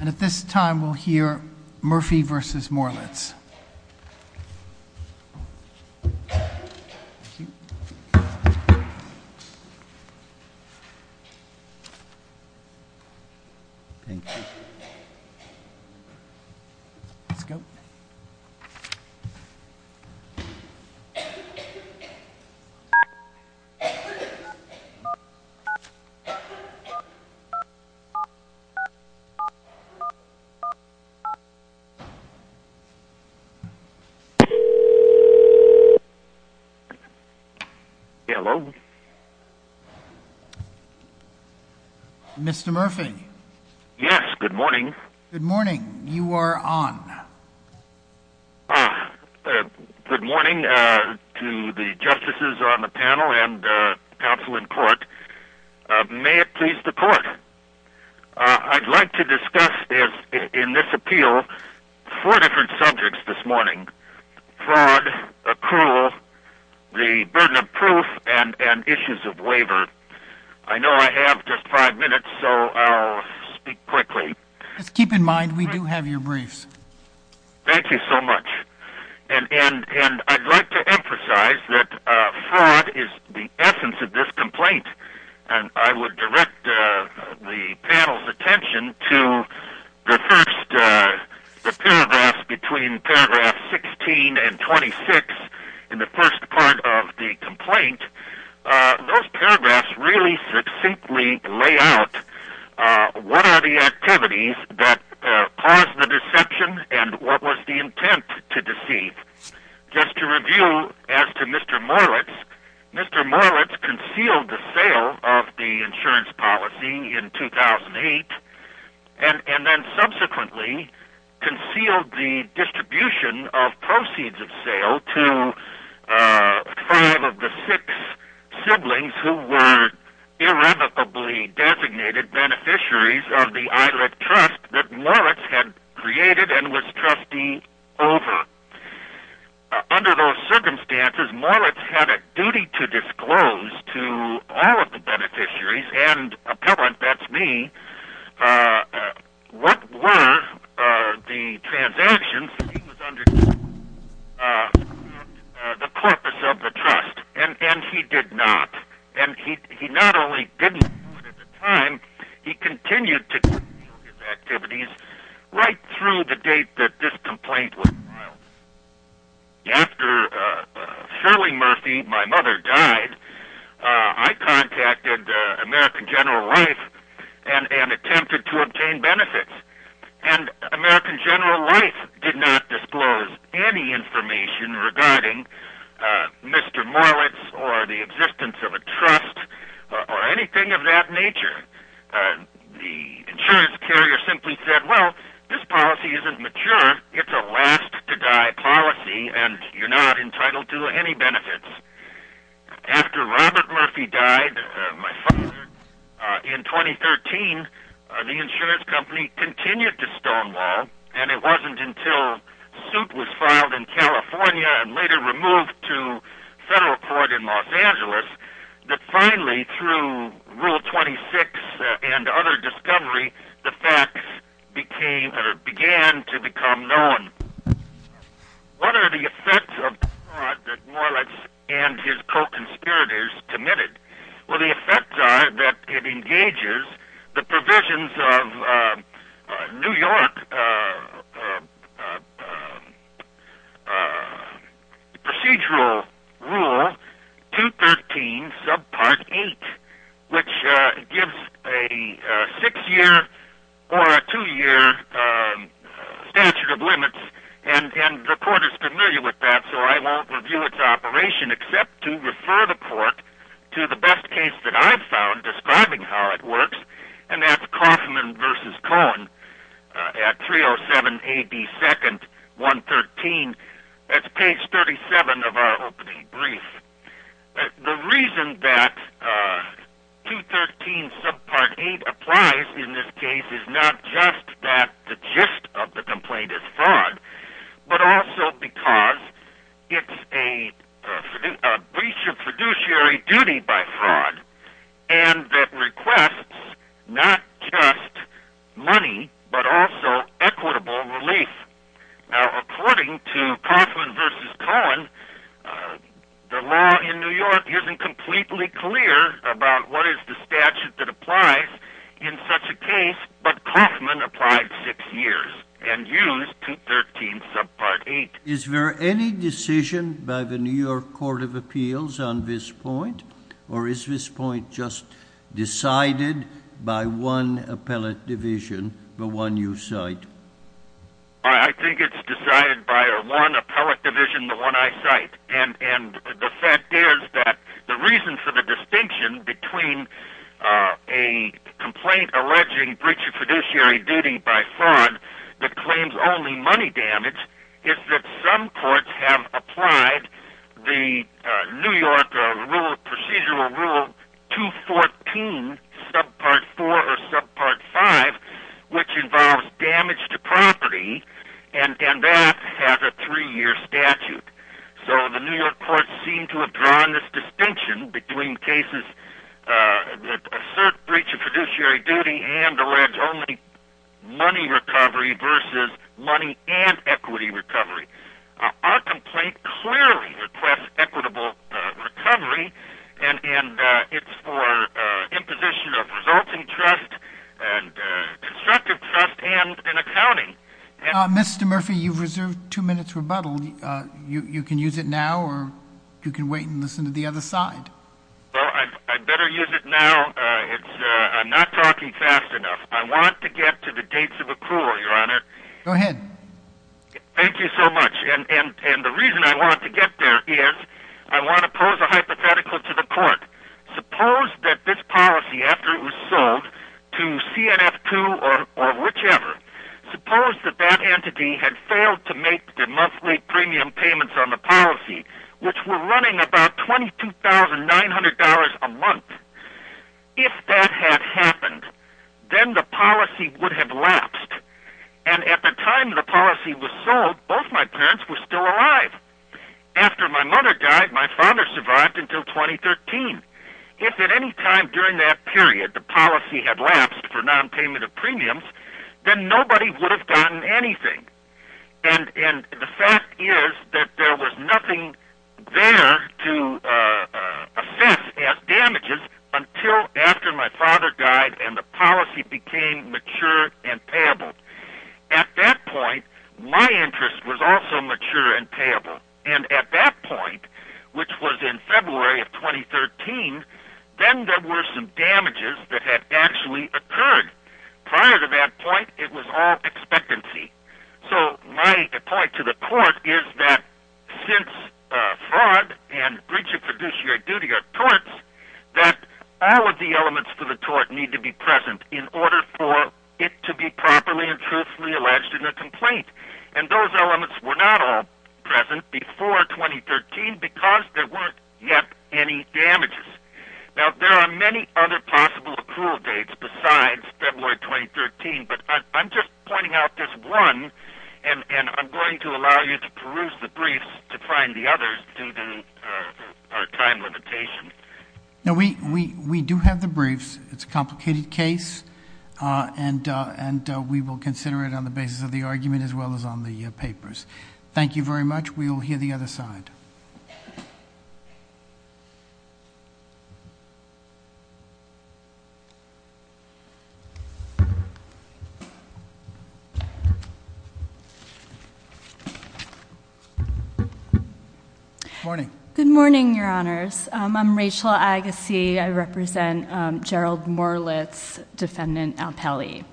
and at this time we'll hear Murphy versus Morlitz hello mr. Murphy yes good morning good morning you are on good morning to the panel I'd like to discuss in this appeal four different subjects this morning fraud accrual the burden of proof and and issues of waiver I know I have just five minutes so I'll speak quickly just keep in mind we do have your briefs thank you so much and and and I'd like to emphasize that fraud is the essence of this complaint and I would direct the panel's attention to the first the paragraphs between paragraph 16 and 26 in the first part of the complaint those paragraphs really succinctly lay out what are the activities that caused the deception and what was the intent to deceive just to review as to mr. Morlitz mr. Morlitz concealed the sale of the insurance policy in 2008 and and then subsequently concealed the distribution of proceeds of sale to five of the six siblings who were irrevocably designated beneficiaries of the islet trust that Moritz had created and was trustee over under those to all of the beneficiaries and appellant that's me what were the transactions the corpus of the trust and and he did not and he not only didn't time he continued to I contacted American General Life and and attempted to obtain benefits and American General Life did not disclose any information regarding mr. Morlitz or the existence of a trust or anything of that nature the insurance carrier simply said well this policy isn't mature it's a policy and you're not entitled to any benefits after Robert Murphy died in 2013 the insurance company continued to stonewall and it wasn't until suit was filed in California and later removed to federal court in Los Angeles that finally through rule 26 and other discovery became began to become known what are the effects of Morlitz and his co-conspirators committed well the effects are that it engages the provisions of New York procedural rule 213 subpart eight which gives a six-year or a two-year statute of limits and the court is familiar with that so I won't review its operation except to refer the court to the 307 AD 2nd 113 that's page 37 of our brief the reason that 213 subpart 8 applies in this case is not just that the gist of the complaint is fraud but also because it's a breach of is there any decision by the New York Court of Appeals on this point or is this point just decided by one appellate division the one you cite I think it's decided by one appellate division the one I cite and and the fact is that the reason for the distinction between a complaint alleging breach of fiduciary duty by fraud that claims only money damage is that some courts have applied the New York rule procedural rule 214 subpart 4 or subpart 5 which involves damage to property and that has a three-year statute so the New York courts seem to have drawn this distinction between cases that assert breach of fiduciary duty and allege only money recovery versus money and Mr. Murphy you've reserved two minutes rebuttal you can use it now or you can wait and listen to the other side well I better use it now I'm not talking fast enough I want to get to the dates of there is I want to pose a hypothetical to the court suppose that this policy after it was sold to CNF to or whichever suppose that that entity had failed to make the monthly premium payments on the policy which were running about twenty two thousand nine hundred dollars a month if that had happened then the policy would have lapsed and at the time the policy was sold both my parents were still alive after my mother died my father survived until 2013 if at any time during that period the policy had lapsed for non-payment of premiums then nobody would have gotten anything and and the fact is that there was nothing there to assess as damages until after my father died and the policy became mature and payable at that point my interest was also mature and payable and at that point which was in February of 2013 then there were some damages that had actually occurred prior to that point it was all expectancy so my point to the court is that since fraud and breach of fiduciary duty are torts that all of the elements for the tort need to be present in order for it to be properly and truthfully alleged in a complaint and those elements were not all present before 2013 because there weren't yet any damages now there are many other possible accrual dates besides February 2013 but I'm just pointing out this one and and I'm going to allow you to peruse the briefs to our time limitation now we we we do have the briefs it's a complicated case and and we will consider it on the basis of the argument as well as on the papers thank you very much we will hear the other side morning good morning your honors I'm Rachel Agassiz I represent Gerald Morlitz defendant Alpelli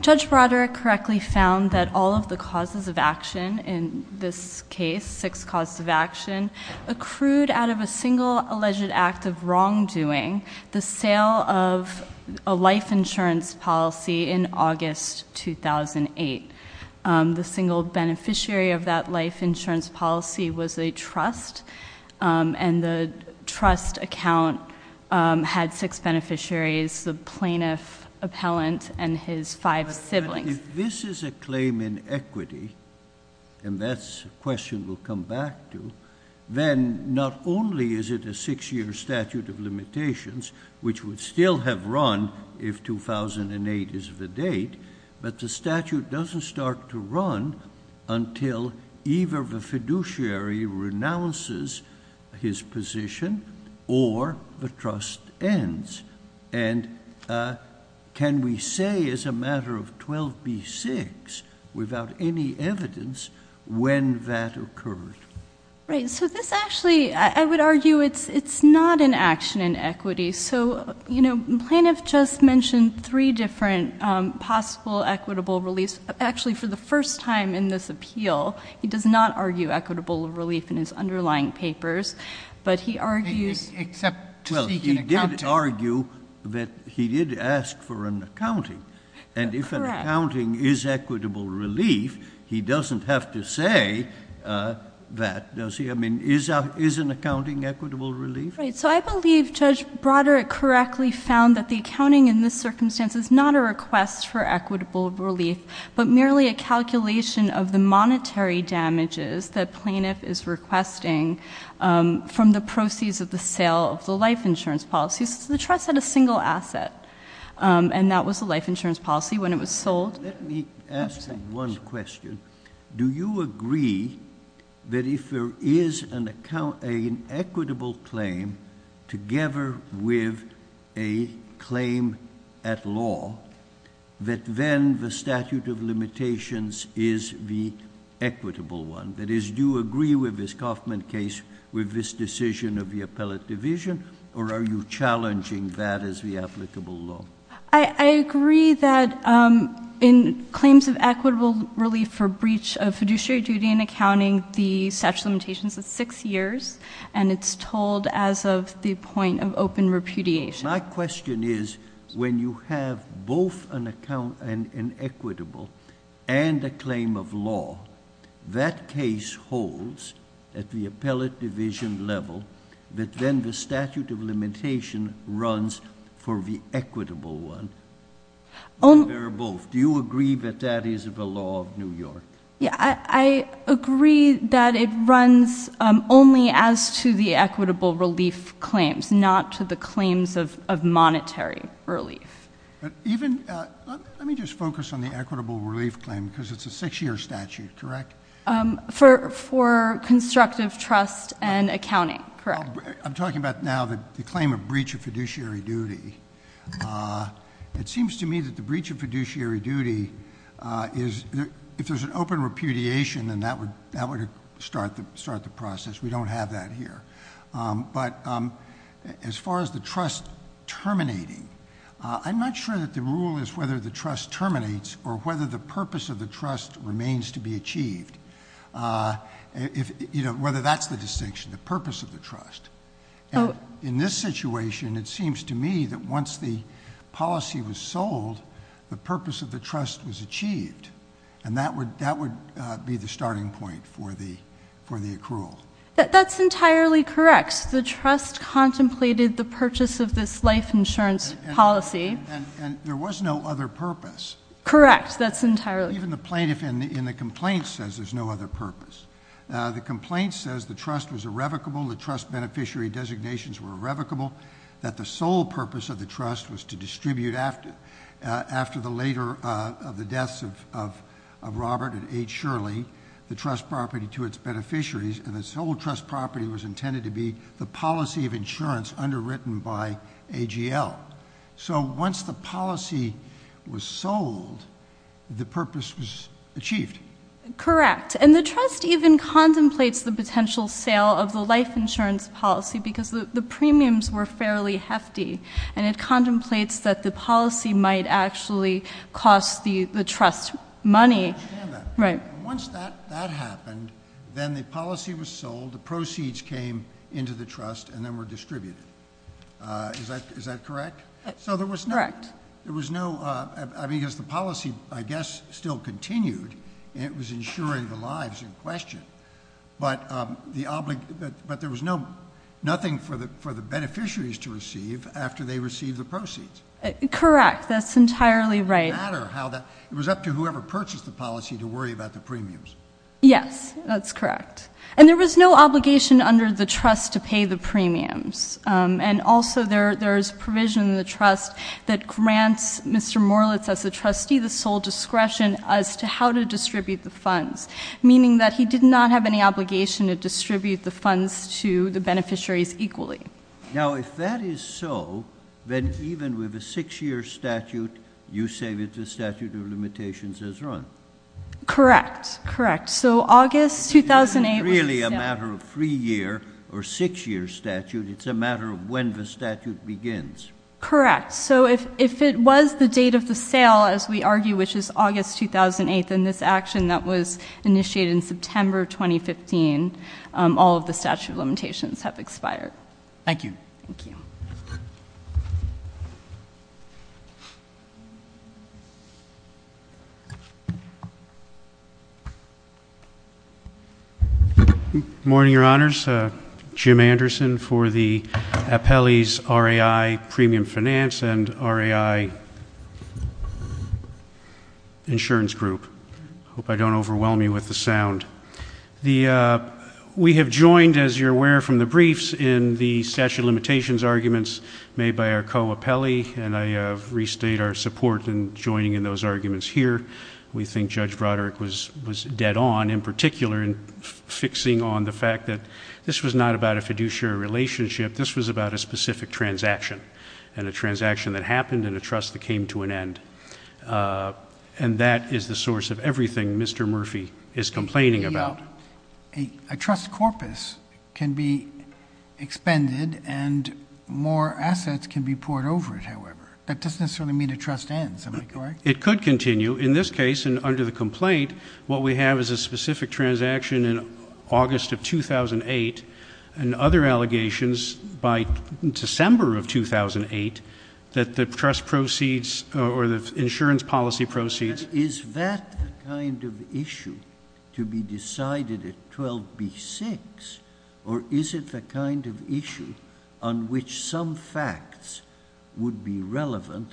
judge Broderick correctly found that all of the causes of action in this case six costs of action accrued out of a single alleged act of wrongdoing the sale of a life insurance policy in August 2008 the single beneficiary of that life insurance policy was a trust and the trust account had six beneficiaries the plaintiff appellant and his five siblings this is a claim in equity and that's a question we'll come back to then not only is it a six-year statute of 2008 is the date but the statute doesn't start to run until either the fiduciary renounces his position or the trust ends and can we say as a matter of 12b6 without any evidence when that occurred right so this actually I would argue it's it's not an action in equity so you know plaintiff just mentioned three different possible equitable release actually for the first time in this appeal he does not argue equitable relief in his underlying papers but he argues except well he did argue that he did ask for an accounting and if an accounting is equitable relief he doesn't have to say that does he I mean is that is an accounting equitable relief right so I that the accounting in this circumstance is not a request for equitable relief but merely a calculation of the monetary damages that plaintiff is requesting from the proceeds of the sale of the life insurance policies the trust had a single asset and that was a life insurance policy when it was sold one question do you agree that if there is an account an equitable claim together with a claim at law that then the statute of limitations is the equitable one that is do agree with this Kaufman case with this decision of the appellate division or are you challenging that as the applicable law I agree that in claims of equitable relief for breach of fiduciary duty in accounting the statute limitations of six years and it's told as of the point of open repudiation my question is when you have both an account and an equitable and a claim of law that case holds at the appellate division level that then the statute of limitation runs for the agree that it runs only as to the equitable relief claims not to the claims of monetary relief even let me just focus on the equitable relief claim because it's a six-year statute correct for for constructive trust and accounting correct I'm talking about now that the claim of breach of fiduciary duty it seems to me that the breach of fiduciary duty is if there's an open repudiation and that would that would start the start the process we don't have that here but as far as the trust terminating I'm not sure that the rule is whether the trust terminates or whether the purpose of the trust remains to be achieved if you know whether that's the distinction the purpose of the trust in this situation it seems to me that once the policy was sold the purpose of the trust was achieved and that would that would be the starting point for the for the accrual that that's entirely correct the trust contemplated the purchase of this life insurance policy and there was no other purpose correct that's entirely even the plaintiff in the in the complaint says there's no other purpose the complaint says the trust was irrevocable the trust beneficiary designations were irrevocable that the sole purpose of the trust was to distribute after after the later of the deaths of Robert and H. Shirley the trust property to its beneficiaries and this whole trust property was intended to be the policy of insurance underwritten by AGL so once the policy was sold the purpose was achieved correct and the trust even contemplates the potential sale of the insurance policy because the premiums were fairly hefty and it contemplates that the policy might actually cost the the trust money right once that that happened then the policy was sold the proceeds came into the trust and then were distributed is that is that correct so there was correct there was no I mean is the policy I guess still continued it was ensuring the lives in question but the but there was no nothing for the for the beneficiaries to receive after they receive the proceeds correct that's entirely right how that it was up to whoever purchased the policy to worry about the premiums yes that's correct and there was no obligation under the trust to pay the premiums and also there there's provision the trust that grants mr. Morlitz as the trustee the sole discretion as to how to distribute the funds meaning that he did not have any obligation to distribute the funds to the beneficiaries equally now if that is so then even with a six-year statute you say that the statute of limitations has run correct correct so August 2008 really a matter of three year or six year statute it's a matter of when the statute begins correct so if if it was the date of the sale as we argue which is August 2008 and this all of the statute of limitations have expired thank you morning your honors Jim Anderson for the appellees RAI premium finance and RAI insurance group hope I don't overwhelm you with the sound the we have joined as you're aware from the briefs in the statute of limitations arguments made by our co-appellee and I restate our support and joining in those arguments here we think judge Broderick was was dead on in particular in fixing on the fact that this was not about a fiduciary relationship this was about a specific transaction and a transaction that happened and a trust that came to an end and that is the source of everything mr. Murphy is complaining about a trust corpus can be expended and more assets can be poured over it however that doesn't necessarily mean a trust ends it could continue in this case and under the complaint what we have is a specific transaction in August of 2008 and other allegations by December of 2008 that the trust proceeds or the insurance policy proceeds is that kind of issue to be decided at 12 b6 or is it the kind of issue on which some facts would be relevant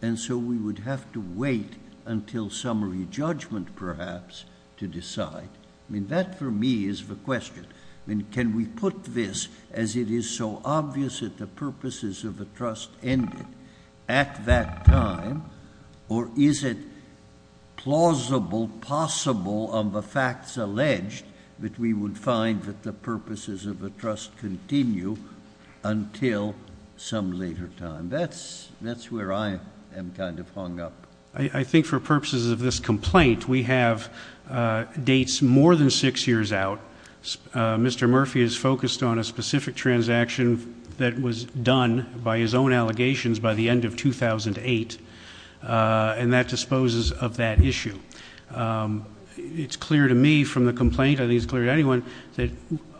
and so we would have to wait until summary judgment perhaps to decide I mean that for me is the question and can we put this as it is so obvious that the purposes of the trust ended at that time or is it plausible possible of the facts alleged that we would find that the purposes of the trust continue until some later time that's that's where I am kind of hung up I think for purposes of this mr. Murphy is focused on a specific transaction that was done by his own allegations by the end of 2008 and that disposes of that issue it's clear to me from the complaint I think it's clear to anyone that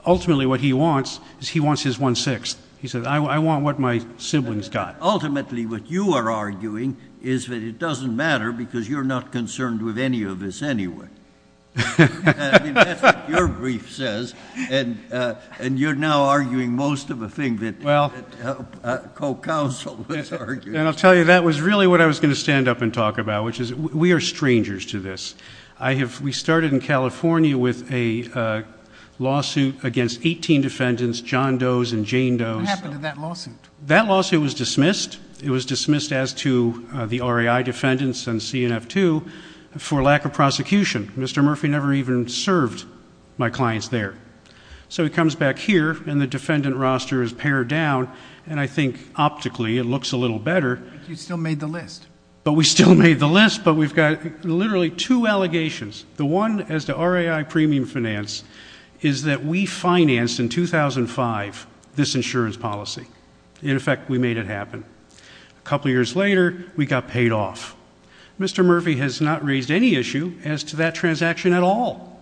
ultimately what he wants is he wants his one-sixth he said I want what my siblings got ultimately what you are arguing is that it doesn't matter because you're not concerned with any of this anyway your brief says and and you're now arguing most of the thing that well co-counsel and I'll tell you that was really what I was going to stand up and talk about which is we are strangers to this I have we started in California with a lawsuit against 18 defendants John Doe's and Jane Doe's that lawsuit that lawsuit was dismissed it was dismissed as to the RAI defendants and CNF to for lack of prosecution mr. Murphy never even served my clients there so he comes back here and the defendant roster is pared down and I think optically it looks a little better you still made the list but we still made the list but we've got literally two allegations the one as the RAI premium finance is that we financed in 2005 this insurance policy in effect we made it a couple years later we got paid off mr. Murphy has not raised any issue as to that transaction at all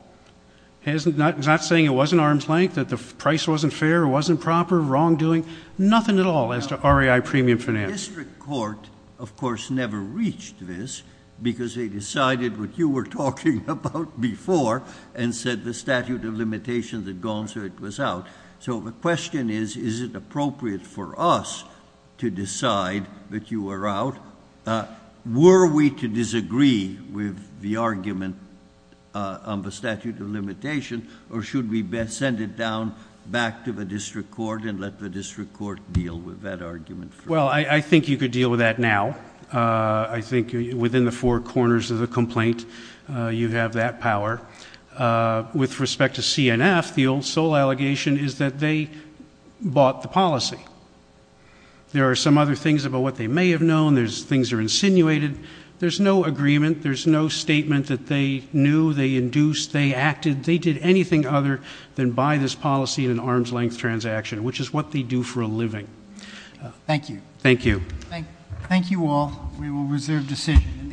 hasn't not saying it wasn't arm's-length that the price wasn't fair it wasn't proper wrongdoing nothing at all as to RAI premium finance court of course never reached this because they decided what you were talking about before and said the statute of limitation that was out so the question is is it appropriate for us to decide that you were out were we to disagree with the argument on the statute of limitation or should we best send it down back to the district court and let the district court deal with that argument well I think you could deal with that now I think within the four corners of the complaint you have that power with respect to CNF the old sole allegation is that they bought the policy there are some other things about what they may have known there's things are insinuated there's no agreement there's no statement that they knew they induced they acted they did anything other than buy this policy in an arm's-length transaction which is what they do for a living thank you thank you thank you all we will reserve decision